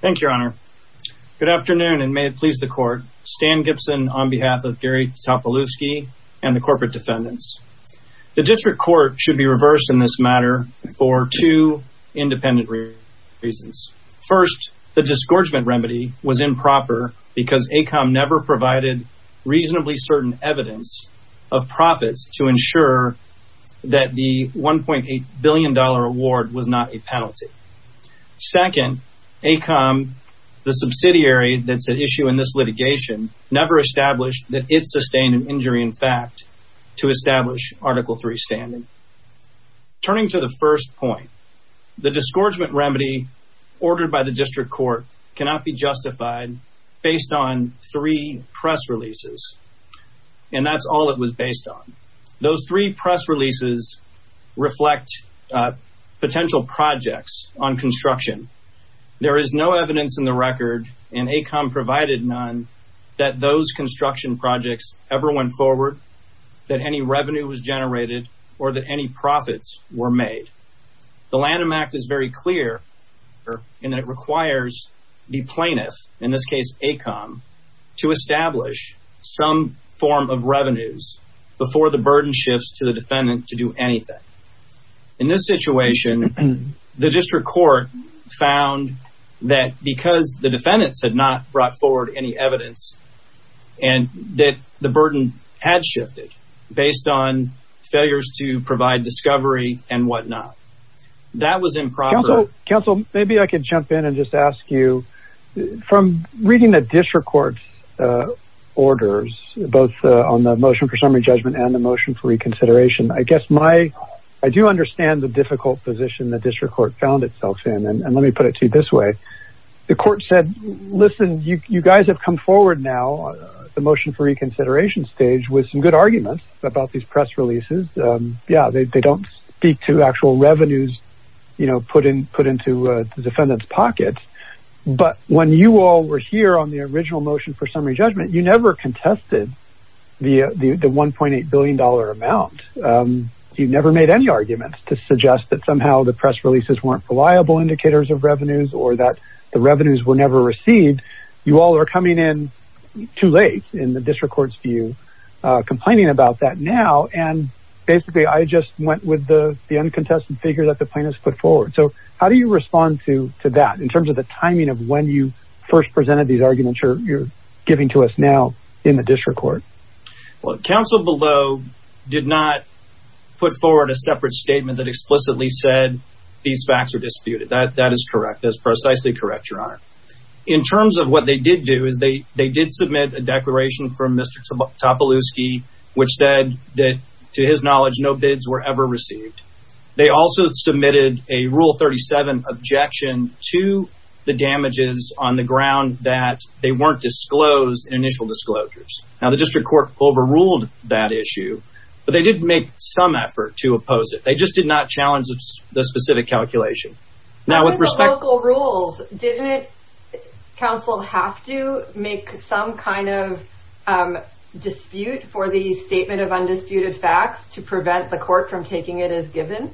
Thank you, Your Honor. Good afternoon and may it please the court. Stan Gibson on behalf of Gary Topolowski and the corporate defendants. The District Court should be reversed in this matter for two independent reasons. First, the disgorgement remedy was improper because AECOM never provided reasonably certain evidence of profits to ensure that the 1.8 billion dollar award was not a penalty. Second, AECOM, the subsidiary that's at issue in this litigation, never established that it sustained an injury in fact to establish Article 3 standing. Turning to the first point, the disgorgement remedy ordered by the District Court cannot be justified based on three press releases and that's all it was based on. Those three press releases reflect potential projects on construction. There is no evidence in the record, and AECOM provided none, that those construction projects ever went forward, that any revenue was generated, or that any profits were made. The Lanham Act is very clear in that it requires the before the burden shifts to the defendant to do anything. In this situation, the District Court found that because the defendants had not brought forward any evidence and that the burden had shifted based on failures to provide discovery and whatnot. That was improper. Counsel, maybe I could jump in and just for summary judgment and the motion for reconsideration. I guess my, I do understand the difficult position the District Court found itself in, and let me put it to you this way. The court said, listen, you guys have come forward now, the motion for reconsideration stage, with some good arguments about these press releases. Yeah, they don't speak to actual revenues, you know, put in, put into the defendant's pockets, but when you all were here on the original motion for summary judgment, you never contested the 1.8 billion dollar amount. You never made any arguments to suggest that somehow the press releases weren't reliable indicators of revenues, or that the revenues were never received. You all are coming in too late in the District Court's view, complaining about that now, and basically I just went with the uncontested figure that the plaintiffs put forward. So how do you respond to that in terms of the timing of when you first presented these arguments you're giving to us now in the District Court? Well, the counsel below did not put forward a separate statement that explicitly said these facts are disputed. That is correct. That is precisely correct, Your Honor. In terms of what they did do, is they did submit a declaration from Mr. Topolewski, which said that to his knowledge, no bids were ever received. They also submitted a Rule 37 objection to the damages on the ground that they weren't disclosed in initial disclosures. Now, the District Court overruled that issue, but they did make some effort to oppose it. They just did not challenge the specific calculation. Now, with respect to the local rules, didn't counsel have to make some kind of dispute for the statement of undisputed facts to prevent the court from taking it as given?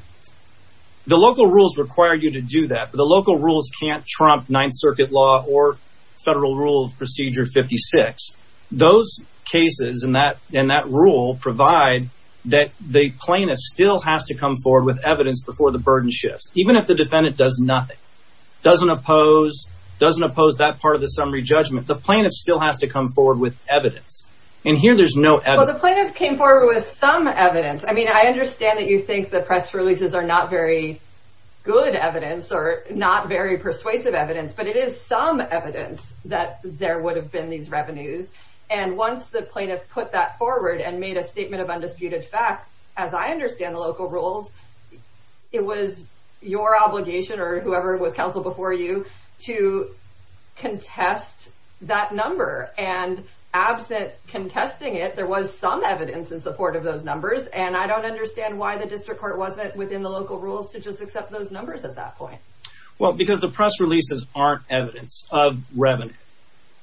The local rules require you to do that, but the local rules can't trump Ninth Circuit law or Federal Rule Procedure 56. Those cases and that rule provide that the plaintiff still has to come forward with evidence before the burden shifts, even if the defendant does nothing, doesn't oppose that part of the summary judgment. The plaintiff still has to come forward with evidence, and here there's no evidence. Well, the plaintiff came forward with some evidence. I mean, I understand that you think the not very persuasive evidence, but it is some evidence that there would have been these revenues, and once the plaintiff put that forward and made a statement of undisputed fact, as I understand the local rules, it was your obligation or whoever was counsel before you to contest that number, and absent contesting it, there was some evidence in support of those numbers, and I don't understand why the District Court wasn't within the local rules to just accept those numbers at that point. Well, because the press releases aren't evidence of revenue.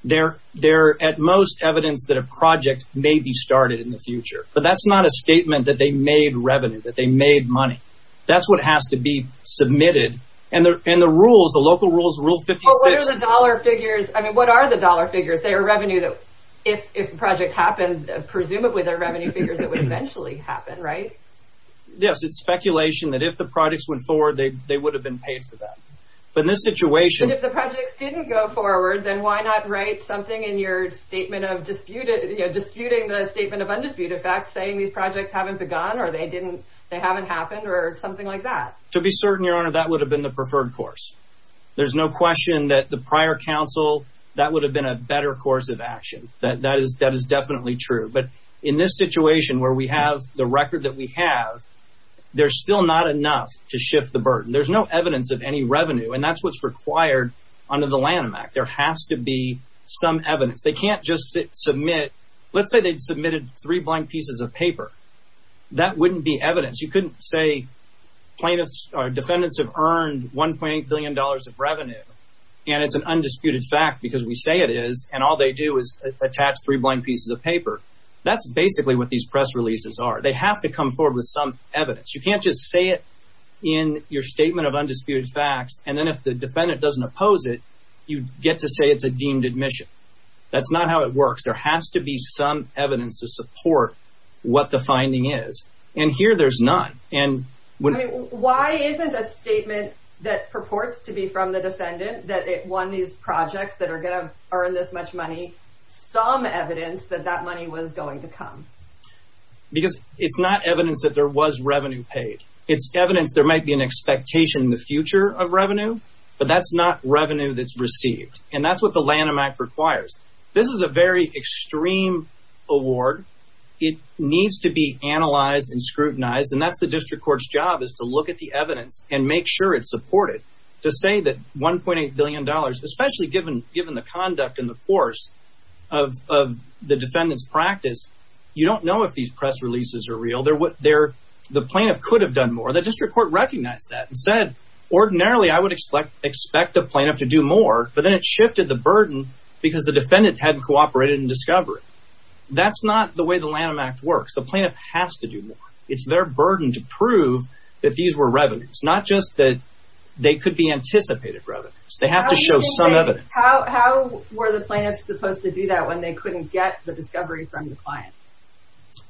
They're at most evidence that a project may be started in the future, but that's not a statement that they made revenue, that they made money. That's what has to be submitted, and the rules, the local rules, Rule 56... Well, what are the dollar figures? I mean, what are the dollar figures? They're revenue that if the project happened, presumably they're revenue figures that would eventually happen, right? Yes, it's speculation that if the projects went forward, they would have been paid for that, but in this situation... But if the projects didn't go forward, then why not write something in your statement of disputed, you know, disputing the statement of undisputed fact saying these projects haven't begun or they didn't, they haven't happened or something like that? To be certain, Your Honor, that would have been the preferred course. There's no question that the prior counsel, that would have been a better course of action. That is definitely true, but in this situation where we have the record that we have, there's still not enough to shift the burden. There's no evidence of any revenue, and that's what's required under the Lanham Act. There has to be some evidence. They can't just submit... Let's say they submitted three blank pieces of paper. That wouldn't be evidence. You couldn't say plaintiffs or defendants have earned 1.8 billion dollars of revenue, and it's an undisputed fact because we say it is, and all they do is attach three blank pieces of paper. That's to come forward with some evidence. You can't just say it in your statement of undisputed facts, and then if the defendant doesn't oppose it, you get to say it's a deemed admission. That's not how it works. There has to be some evidence to support what the finding is, and here there's none. And why isn't a statement that purports to be from the defendant that it won these projects that are gonna earn this much money some evidence that that money was going to It's not evidence that there was revenue paid. It's evidence there might be an expectation in the future of revenue, but that's not revenue that's received, and that's what the Lanham Act requires. This is a very extreme award. It needs to be analyzed and scrutinized, and that's the district court's job is to look at the evidence and make sure it's supported. To say that 1.8 billion dollars, especially given given the conduct and the force of the defendant's practice, you don't know if these press releases are real. The plaintiff could have done more. The district court recognized that and said, ordinarily I would expect the plaintiff to do more, but then it shifted the burden because the defendant hadn't cooperated in discovery. That's not the way the Lanham Act works. The plaintiff has to do more. It's their burden to prove that these were revenues, not just that they could be anticipated revenues. They have to show some evidence. How were the plaintiffs supposed to do that when they couldn't get the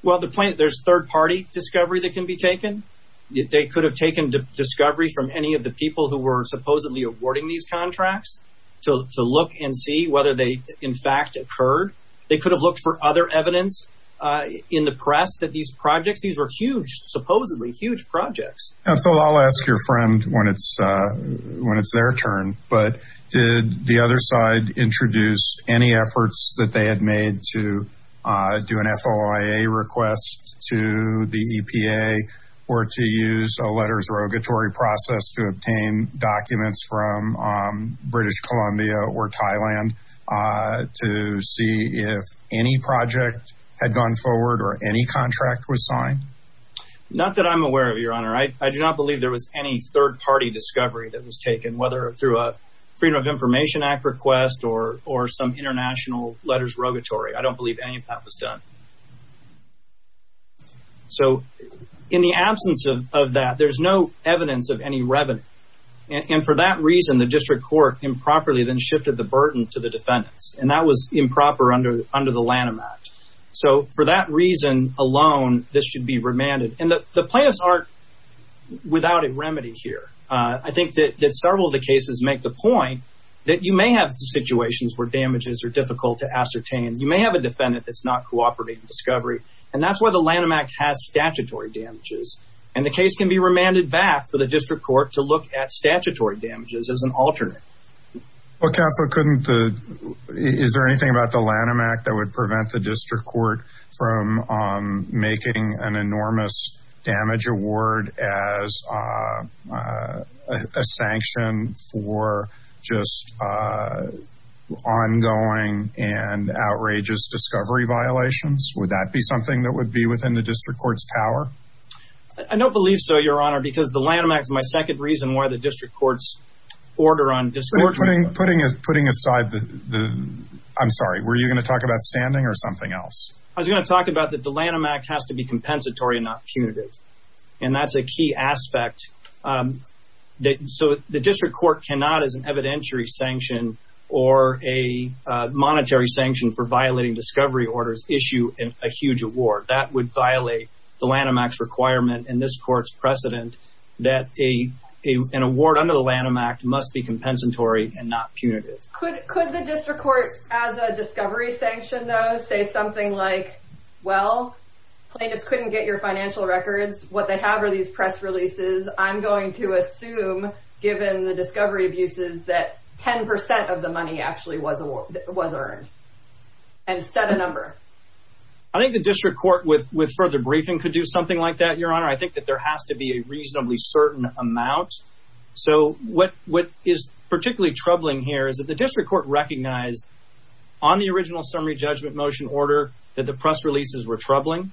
Well, there's third-party discovery that can be taken. They could have taken discovery from any of the people who were supposedly awarding these contracts to look and see whether they in fact occurred. They could have looked for other evidence in the press that these projects, these were huge, supposedly huge projects. And so I'll ask your friend when it's when it's their turn, but did the other side introduce any efforts that they had made to do an SOIA request to the EPA or to use a letters rogatory process to obtain documents from British Columbia or Thailand to see if any project had gone forward or any contract was signed? Not that I'm aware of, your honor. I do not believe there was any third-party discovery that was taken, whether through a Freedom of Information Act request or some international letters rogatory. I don't believe any of that was done. So in the absence of that, there's no evidence of any revenue. And for that reason, the district court improperly then shifted the burden to the defendants. And that was improper under the Lanham Act. So for that reason alone, this should be remanded. And the plaintiffs are without a remedy here. I think that several of the cases make the point that you may have situations where damages are difficult to ascertain. You may have a defendant that's not cooperating in discovery. And that's why the Lanham Act has statutory damages. And the case can be remanded back for the district court to look at statutory damages as an alternate. Well, counsel, is there anything about the Lanham Act that would prevent the district court from making an enormous damage award as a sanction for just ongoing and outrageous discovery violations? Would that be something that would be within the district court's power? I don't believe so, Your Honor, because the Lanham Act is my second reason why the district court's order on discovery... Putting aside the...I'm sorry, were you going to talk about standing or something else? I was going to talk about that the Lanham Act has to be compensatory and not punitive. And that's a key aspect. So the district court cannot, as an evidentiary sanction or a monetary sanction for violating discovery orders, issue a huge award. That would violate the Lanham Act's requirement and this court's precedent that an award under the Lanham Act must be compensatory and not punitive. Could the district court, as a discovery sanction, though, say something like, well, plaintiffs couldn't get your financial records. What they have are these press releases. I'm going to assume, given the discovery abuses, that 10% of the money actually was earned. And set a number. I think the district court, with further briefing, could do something like that, Your Honor. I think that there has to be a reasonably certain amount. So what is particularly troubling here is that the district court recognized on the original summary judgment motion order that the press releases were troubling.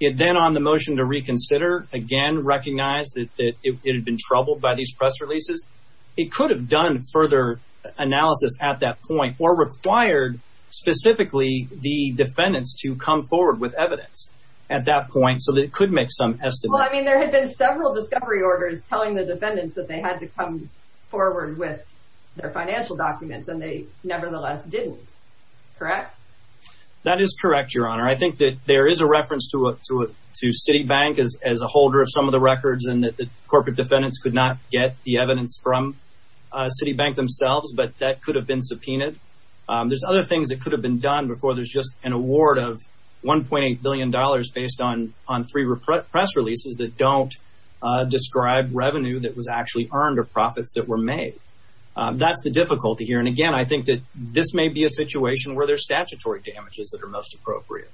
Then on the motion to reconsider, again, recognized that it had been troubled by these press releases. It could have done further analysis at that point or required specifically the defendants to come forward with evidence at that point so that it could make some estimate. Well, I mean, there had been several discovery orders telling the defendants that they had to come forward with their financial documents and they nevertheless didn't. Correct? That is correct, Your Honor. I think that there is a reference to a to a to Citibank as as a holder of some of the records and that the corporate defendants could not get the evidence from Citibank themselves. But that could have been subpoenaed. There's other things that could have been done before. There's just an award of one point eight billion dollars based on on three repress releases that don't describe revenue that was actually earned or profits that were made. That's the difficulty here. And again, I think that this may be a situation where there's statutory damages that are most appropriate.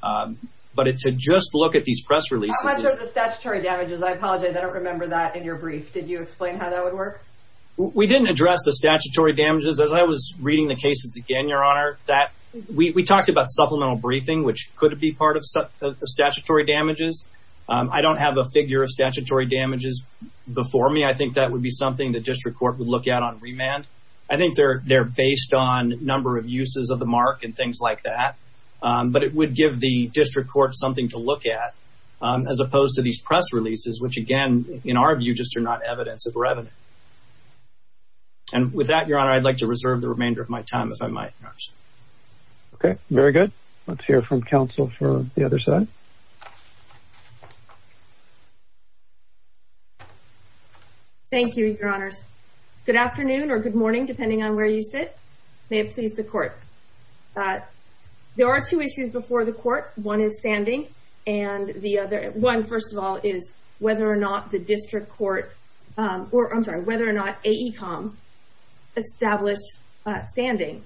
But to just look at these press releases... How much are the statutory damages? I apologize. I don't remember that in your brief. Did you explain how that would work? We didn't address the statutory damages as I was reading the cases again, Your Honor, that we talked about supplemental briefing, which could be part of the statutory damages. I don't have a figure of statutory damages before me. I think that would be something the district court would look at on remand. I think they're based on number of uses of the mark and things like that. But it would give the district court something to look at, as opposed to these press releases, which again, in our view, just are not evidence of revenue. And with that, Your Honor, I'd like to reserve the remainder of my time, if I might. Okay, very good. Let's hear from counsel for the other side. Thank you, Your Honors. Good afternoon or good morning, depending on where you sit. May it please the court. There are two issues before the court. One is standing and the other... One, first of all, is whether or not the district court... I'm sorry, whether or not AECOM established standing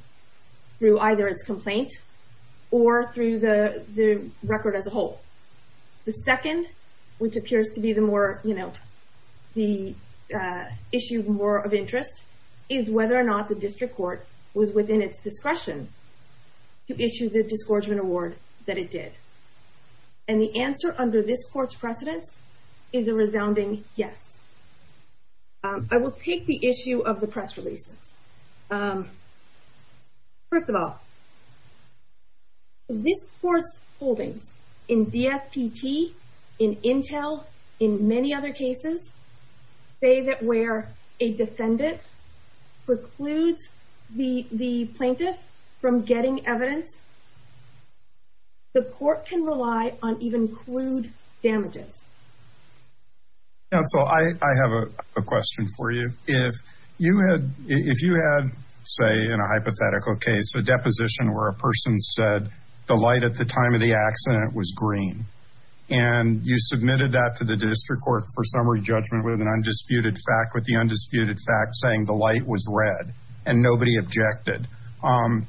through either its complaint or through the record as a whole. The second, which appears to be the issue more of interest, is whether or not the district court was within its discretion to issue the disgorgement award that it did. And the answer under this court's precedence is a resounding yes. I will take the issue of the press in many other cases, say that where a defendant precludes the plaintiff from getting evidence, the court can rely on even crude damages. Counsel, I have a question for you. If you had, say, in a hypothetical case, a deposition where a that to the district court for summary judgment with an undisputed fact, with the undisputed fact saying the light was red and nobody objected,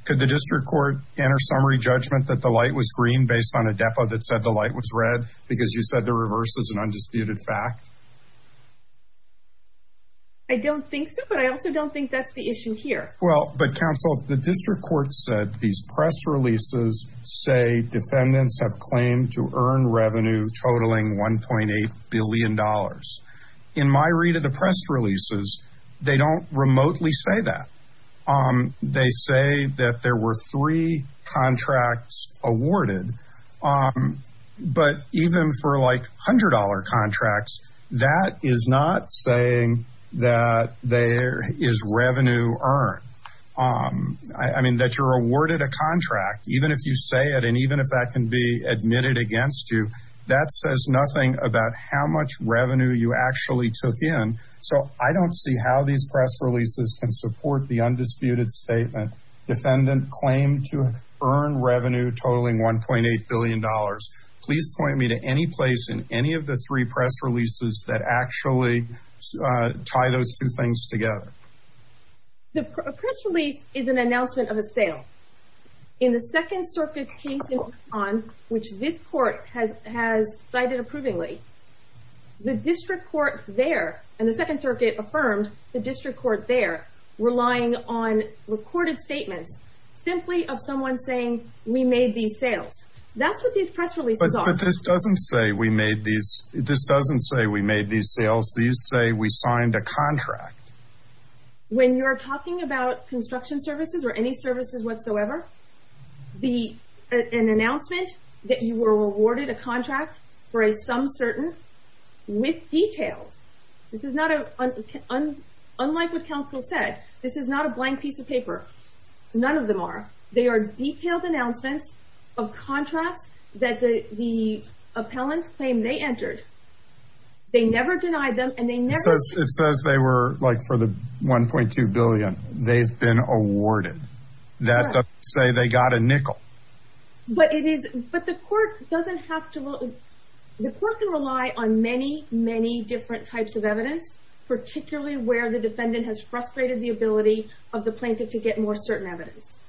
could the district court enter summary judgment that the light was green based on a depo that said the light was red because you said the reverse is an undisputed fact? I don't think so, but I also don't think that's the issue here. Well, but counsel, the district court said these press releases say defendants have claimed to earn revenue totaling $1.8 billion. In my read of the press releases, they don't remotely say that. They say that there were three contracts awarded, but even for like $100 contracts, that is not saying that there is revenue earned. I mean, that you're awarded a contract, even if you say it, and even if that can be admitted against you, that says nothing about how much revenue you actually took in. So I don't see how these press releases can support the undisputed statement, defendant claimed to earn revenue totaling $1.8 billion. Please point me to any place in any of the three press releases that actually tie those two things together. The press release is an on which this court has has cited approvingly the district court there and the Second Circuit affirmed the district court there relying on recorded statements simply of someone saying we made these sales. That's what these press releases are. This doesn't say we made these. This doesn't say we made these sales. These say we signed a contract when you're talking about an announcement that you were awarded a contract for a some certain with details. This is not unlike what counsel said. This is not a blank piece of paper. None of them are. They are detailed announcements of contracts that the the appellant claim they entered. They never denied them and they never says it says they were like for the $1.2 billion they've been awarded. That say they got a nickel, but it is, but the court doesn't have to look. The court can rely on many, many different types of evidence, particularly where the defendant has frustrated the ability of the plaintiff to get more certain evidence.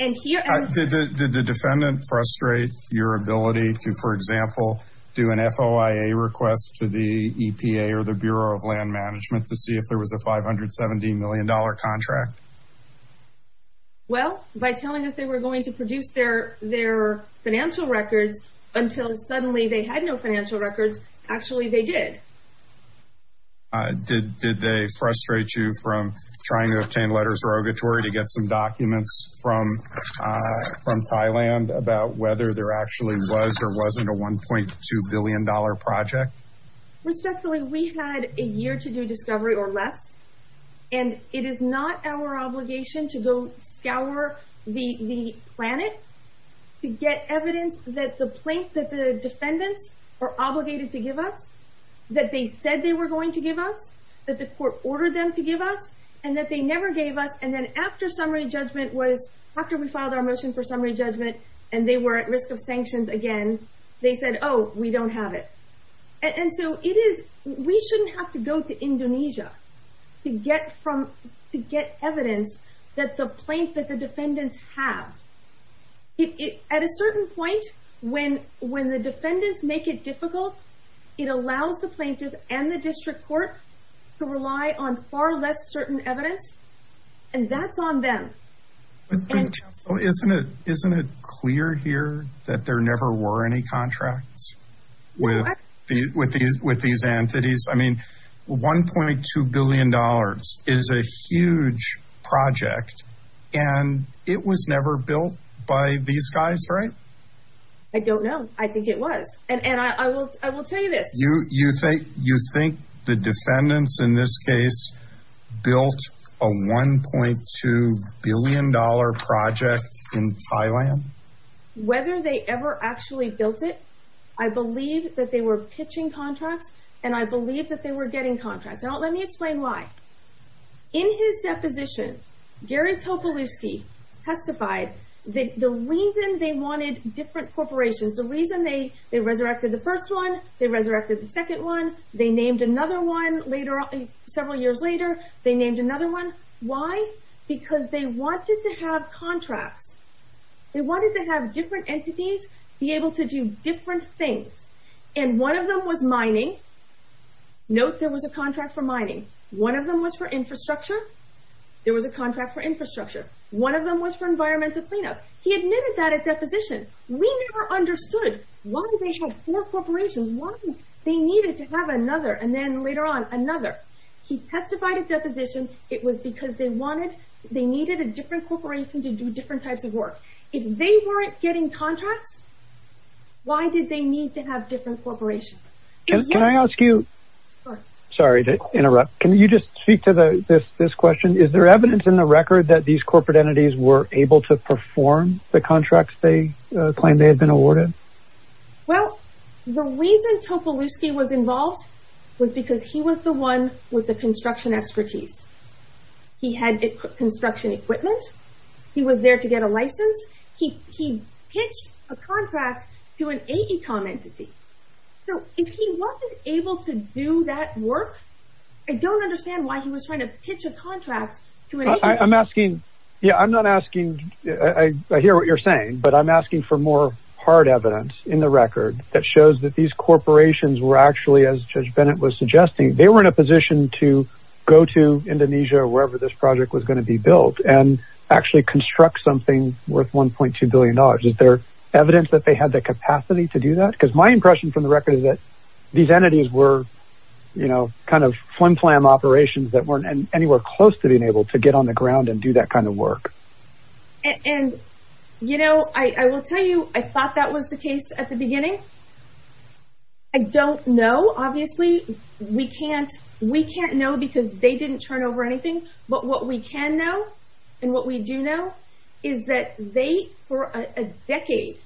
And here the defendant frustrates your ability to, for example, do an FOIA request to the EPA or the Bureau of Land Management to see if there was a $570 million contract. Well, by telling us they were going to produce their their financial records until suddenly they had no financial records. Actually, they did. Did did they frustrate you from trying to obtain letters of rogatory to get some documents from from Thailand about whether there actually was or wasn't a $1.2 billion project? Respectfully, we had a year to do discovery or less, and it is not our obligation to go scour the planet to get evidence that the plaintiff, the defendants are obligated to give us that they said they were going to give us that the court ordered them to give us and that they never gave us. And then after summary judgment was after we filed our motion for summary judgment and they were at risk of sanctions again, they said, Oh, we don't have it. And so it is we shouldn't have to go to to get from to get evidence that the plaintiff, the defendants have it at a certain point when when the defendants make it difficult, it allows the plaintiff and the district court to rely on far less certain evidence. And that's on them. Isn't it? Isn't it clear here that there never were any contracts with with with these entities? I mean, $1.2 billion is a huge project. And it was never built by these guys, right? I don't know. I think it was. And I will I will tell you this. You you think you think the defendants in this case, built a $1.2 billion project in Thailand? Whether they ever actually built it, I believe that they were pitching contracts, and I believe that they were getting contracts. Now, let me explain why. In his deposition, Gary Topolowsky testified that the reason they wanted different corporations, the reason they they resurrected the first one, they resurrected the second one. They named another one later on. Several years later, they named another one. Why? Because they wanted to have contracts. They wanted to have different entities be able to do different things. And one of them was mining. Note, there was a contract for mining. One of them was for infrastructure. There was a contract for infrastructure. One of them was for environmental cleanup. He admitted that at deposition. We never understood why they had four corporations, why they needed to have another and then later on he testified at deposition. It was because they wanted they needed a different corporation to do different types of work. If they weren't getting contracts, why did they need to have different corporations? Can I ask you? Sorry to interrupt. Can you just speak to the this this question? Is there evidence in the record that these corporate entities were able to perform the contracts they claim they had been awarded? Well, the reason Topolowsky was involved was because he was the one with the construction expertise. He had construction equipment. He was there to get a license. He he pitched a contract to an AECOM entity. So if he wasn't able to do that work, I don't understand why he was trying to pitch a contract to an AECOM entity. I'm asking. Yeah, I'm not asking. I hear what you're saying. But I'm asking for more hard evidence in the record that shows that these corporations were actually, as Judge Bennett was suggesting, they were in a position to go to Indonesia or wherever this project was going to be built and actually construct something worth $1.2 billion. Is there evidence that they had the capacity to do that? Because my impression from the record is that these entities were, you know, kind of flim flam operations that weren't anywhere close to being able to get on the ground and do that kind of work. And, you know, I will tell you, I thought that was the case at the time. No, obviously, we can't. We can't know because they didn't turn over anything. But what we can know and what we do know is that they, for a decade,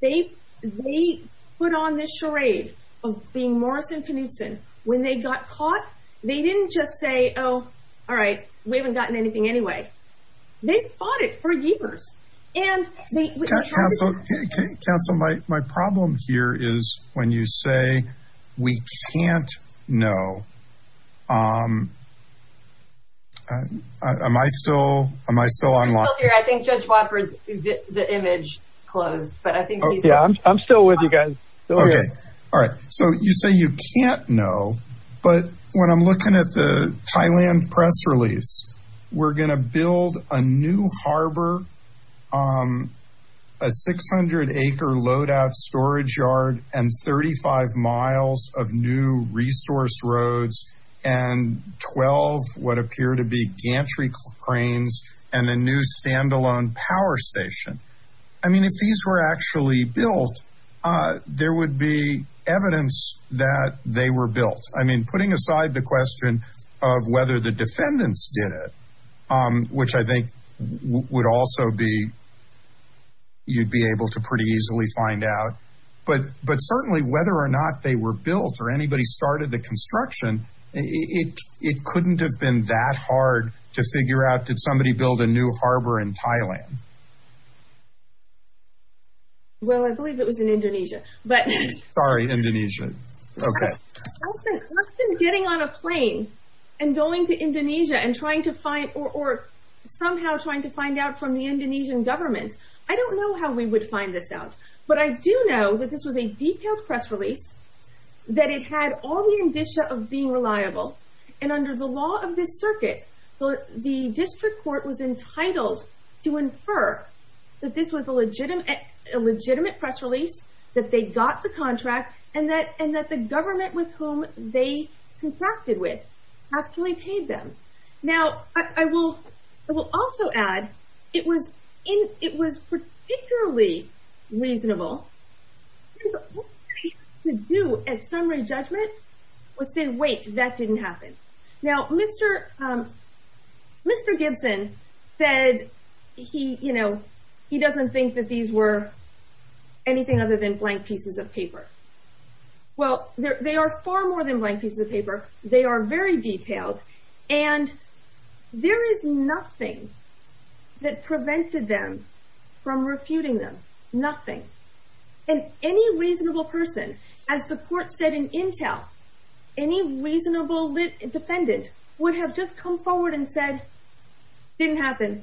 they they put on this charade of being Morrison Knudson when they got caught. They didn't just say, oh, all right, we haven't gotten anything anyway. They fought it for years. And, Councilor, my problem here is when you say we can't know, am I still, am I still on line? We're still here. I think Judge Watford's, the image closed, but I think he's on. I'm still with you guys. Okay. All right. So you say you can't know, but when I'm looking at the harbor, a 600 acre loadout storage yard and 35 miles of new resource roads and 12 what appear to be gantry cranes and a new standalone power station. I mean, if these were actually built, there would be evidence that they were built. I mean, putting aside the question of whether the defendants did it, which I think would also be, you'd be able to pretty easily find out, but certainly whether or not they were built or anybody started the construction, it couldn't have been that hard to figure out, did somebody build a new harbor in Thailand? Well, I believe it was in Indonesia, but... Sorry, Indonesia. Okay. Justin, getting on a plane and going to Indonesia and trying to find, or somehow trying to find out from the Indonesian government, I don't know how we would find this out, but I do know that this was a detailed press release, that it had all the indicia of being reliable and under the law of this circuit, the district court was entitled to infer that this was a legitimate press release, that they got the person with whom they contracted with, actually paid them. Now, I will also add, it was particularly reasonable to do a summary judgment, which said, wait, that didn't happen. Now, Mr. Gibson said he doesn't think that these were anything other than blank pieces of paper. Well, they are far more than blank pieces of paper, they are very detailed, and there is nothing that prevented them from refuting them, nothing. And any reasonable person, as the court said in Intel, any reasonable defendant would have just come forward and said, didn't happen,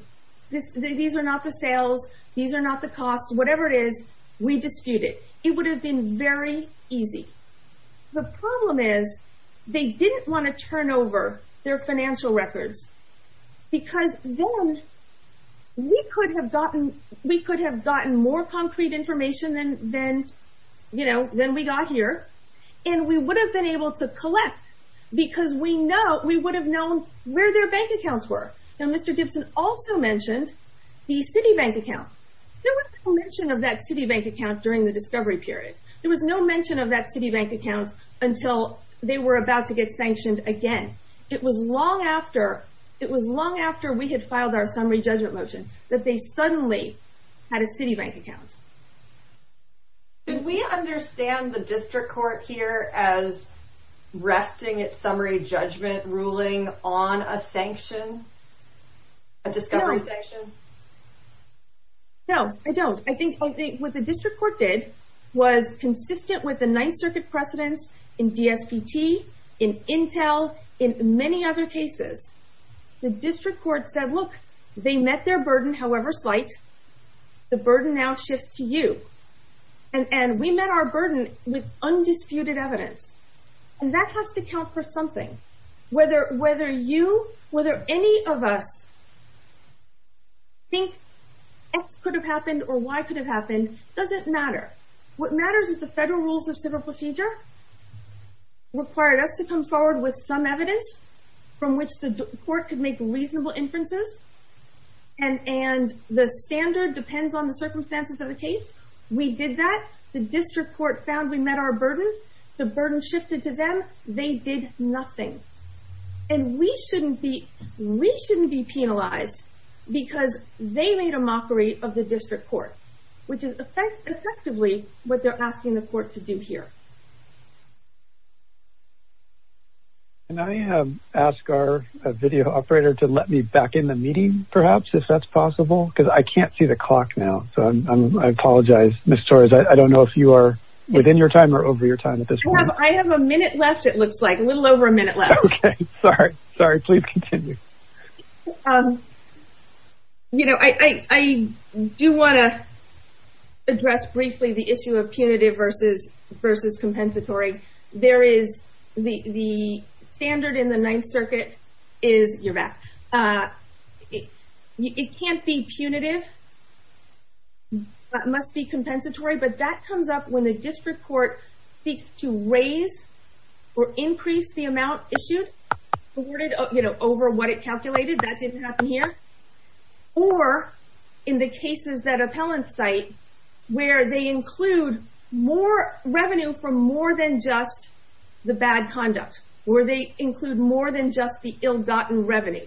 these are not the sales, these are not the costs, whatever it is, we dispute it. It would have been very easy. The problem is, they didn't want to turn over their financial records, because then we could have gotten more concrete information than we got here, and we would have been able to collect, because we would have known where their bank accounts were, and Mr. Gibson also mentioned the Citibank account. There was no mention of that Citibank account during the discovery period. There was no mention of that Citibank account until they were about to get sanctioned again. It was long after, it was long after we had filed our summary judgment motion that they suddenly had a Citibank account. Did we understand the district court here as resting its summary judgment ruling on a sanction, a discovery sanction? No, I don't. I think what the district court did was consistent with the Ninth Circuit precedents in DSPT, in Intel, in many other cases. The district court said, look, they met their burden, however slight, the burden now shifts to you. And we met our burden with undisputed evidence, and that has to count for what could have happened or why could have happened, doesn't matter. What matters is the federal rules of civil procedure required us to come forward with some evidence from which the court could make reasonable inferences, and the standard depends on the circumstances of the case. We did that. The district court found we met our burden. The burden shifted to them. They did nothing. And we shouldn't be penalized because they made a mockery of the district court, which is effectively what they're asking the court to do here. Can I ask our video operator to let me back in the meeting, perhaps, if that's possible, because I can't see the clock now, so I apologize, Ms. Torres, I don't know if you are within your time or over your time at this point. I have a minute left, it looks like, a little over a minute left. Okay, sorry. Sorry, please continue. You know, I do want to address briefly the issue of punitive versus compensatory. There is the standard in the Ninth Circuit is, you're back, it can't be punitive, that must be compensatory, but that comes up when the district court seeks to raise or increase the amount issued, awarded, you know, over what it calculated. That didn't happen here. Or in the cases that appellants cite, where they include more revenue from more than just the bad conduct, where they include more than just the ill-gotten revenue.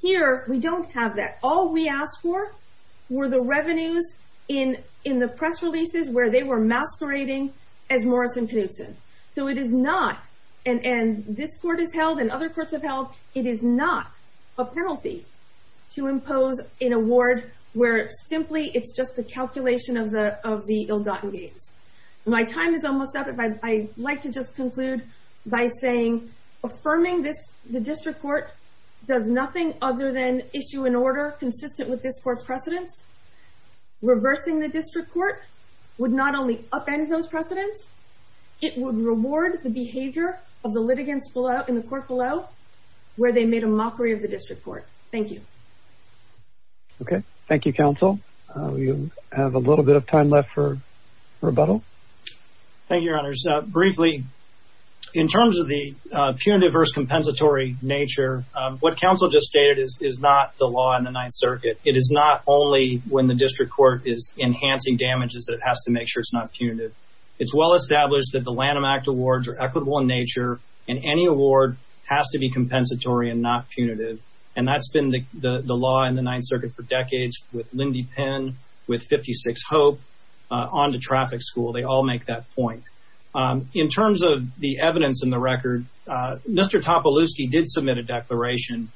Here, we don't have that. All we asked for were the revenues in the press releases where they were masquerading as Morrison-Penninson. So it is not, and this court has held and other courts have held, it is not a penalty to impose an award where simply it's just the calculation of the ill-gotten gains. My time is almost up, but I'd like to just conclude by saying, affirming the district court does nothing other than issue an order consistent with this court's precedents. Reversing the district court would not only upend those precedents, it would reward the behavior of the litigants in the court below where they made a mockery of the district court. Thank you. Okay. Thank you, counsel. We have a little bit of time left for rebuttal. Thank you, Your Honors. Briefly, in terms of the punitive versus compensatory nature, what counsel just stated is not the law in the Ninth Circuit. It is not only when the district court is enhancing damages that it has to make sure it's not punitive. It's well-established that the Lanham Act awards are equitable in nature and any award has to be compensatory and not punitive, and that's been the law in the Ninth Circuit for decades with Lindy Penn, with 56 Hope, onto traffic school. They all make that point. In terms of the evidence in the record, Mr. Topolowsky did submit a declaration.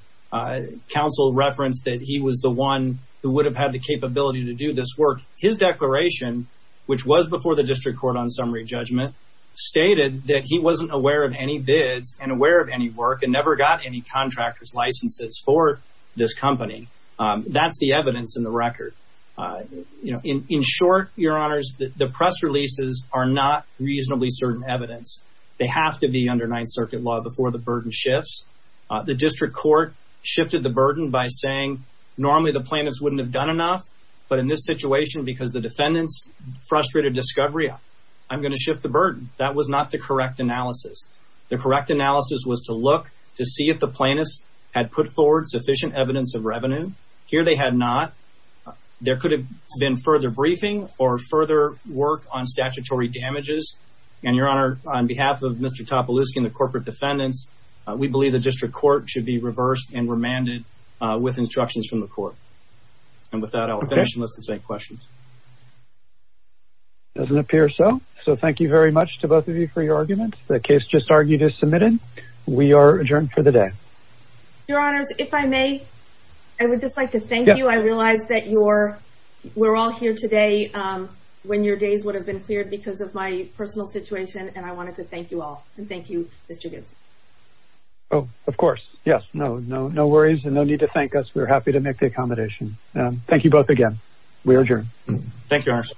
Counsel referenced that he was the one who would have had the capability to do this work. His declaration, which was before the district court on summary judgment, stated that he wasn't aware of any bids and aware of any work and never got any contractor's licenses for this company. That's the evidence in the record. In short, Your Honors, the press releases are not reasonably certain evidence. They have to be under Ninth Circuit law before the burden shifts. The district court shifted the burden by saying, normally the plaintiffs wouldn't have done enough, but in this situation, because the defendants frustrated discovery, I'm going to shift the burden. That was not the correct analysis. The correct analysis was to look to see if the plaintiffs had put forward sufficient evidence of revenue. Here they had not. There could have been further briefing or further work on statutory damages. And Your Honor, on behalf of Mr. Topolowsky and the corporate defendants, we believe the district court should be reversed and remanded with instructions from the court. And with that, I'll finish and let's take questions. Doesn't appear so. So thank you very much to both of you for your arguments. The case just argued is submitted. We are adjourned for the day. Your Honors, if I may, I would just like to thank you. I realize that we're all here today when your days would have been cleared because of my personal situation, and I wanted to thank you all. And thank you, Mr. Gibson. Oh, of course. Yes. No, no, no worries. And no need to thank us. We're happy to make the accommodation. We are adjourned. Thank you, Your Honor.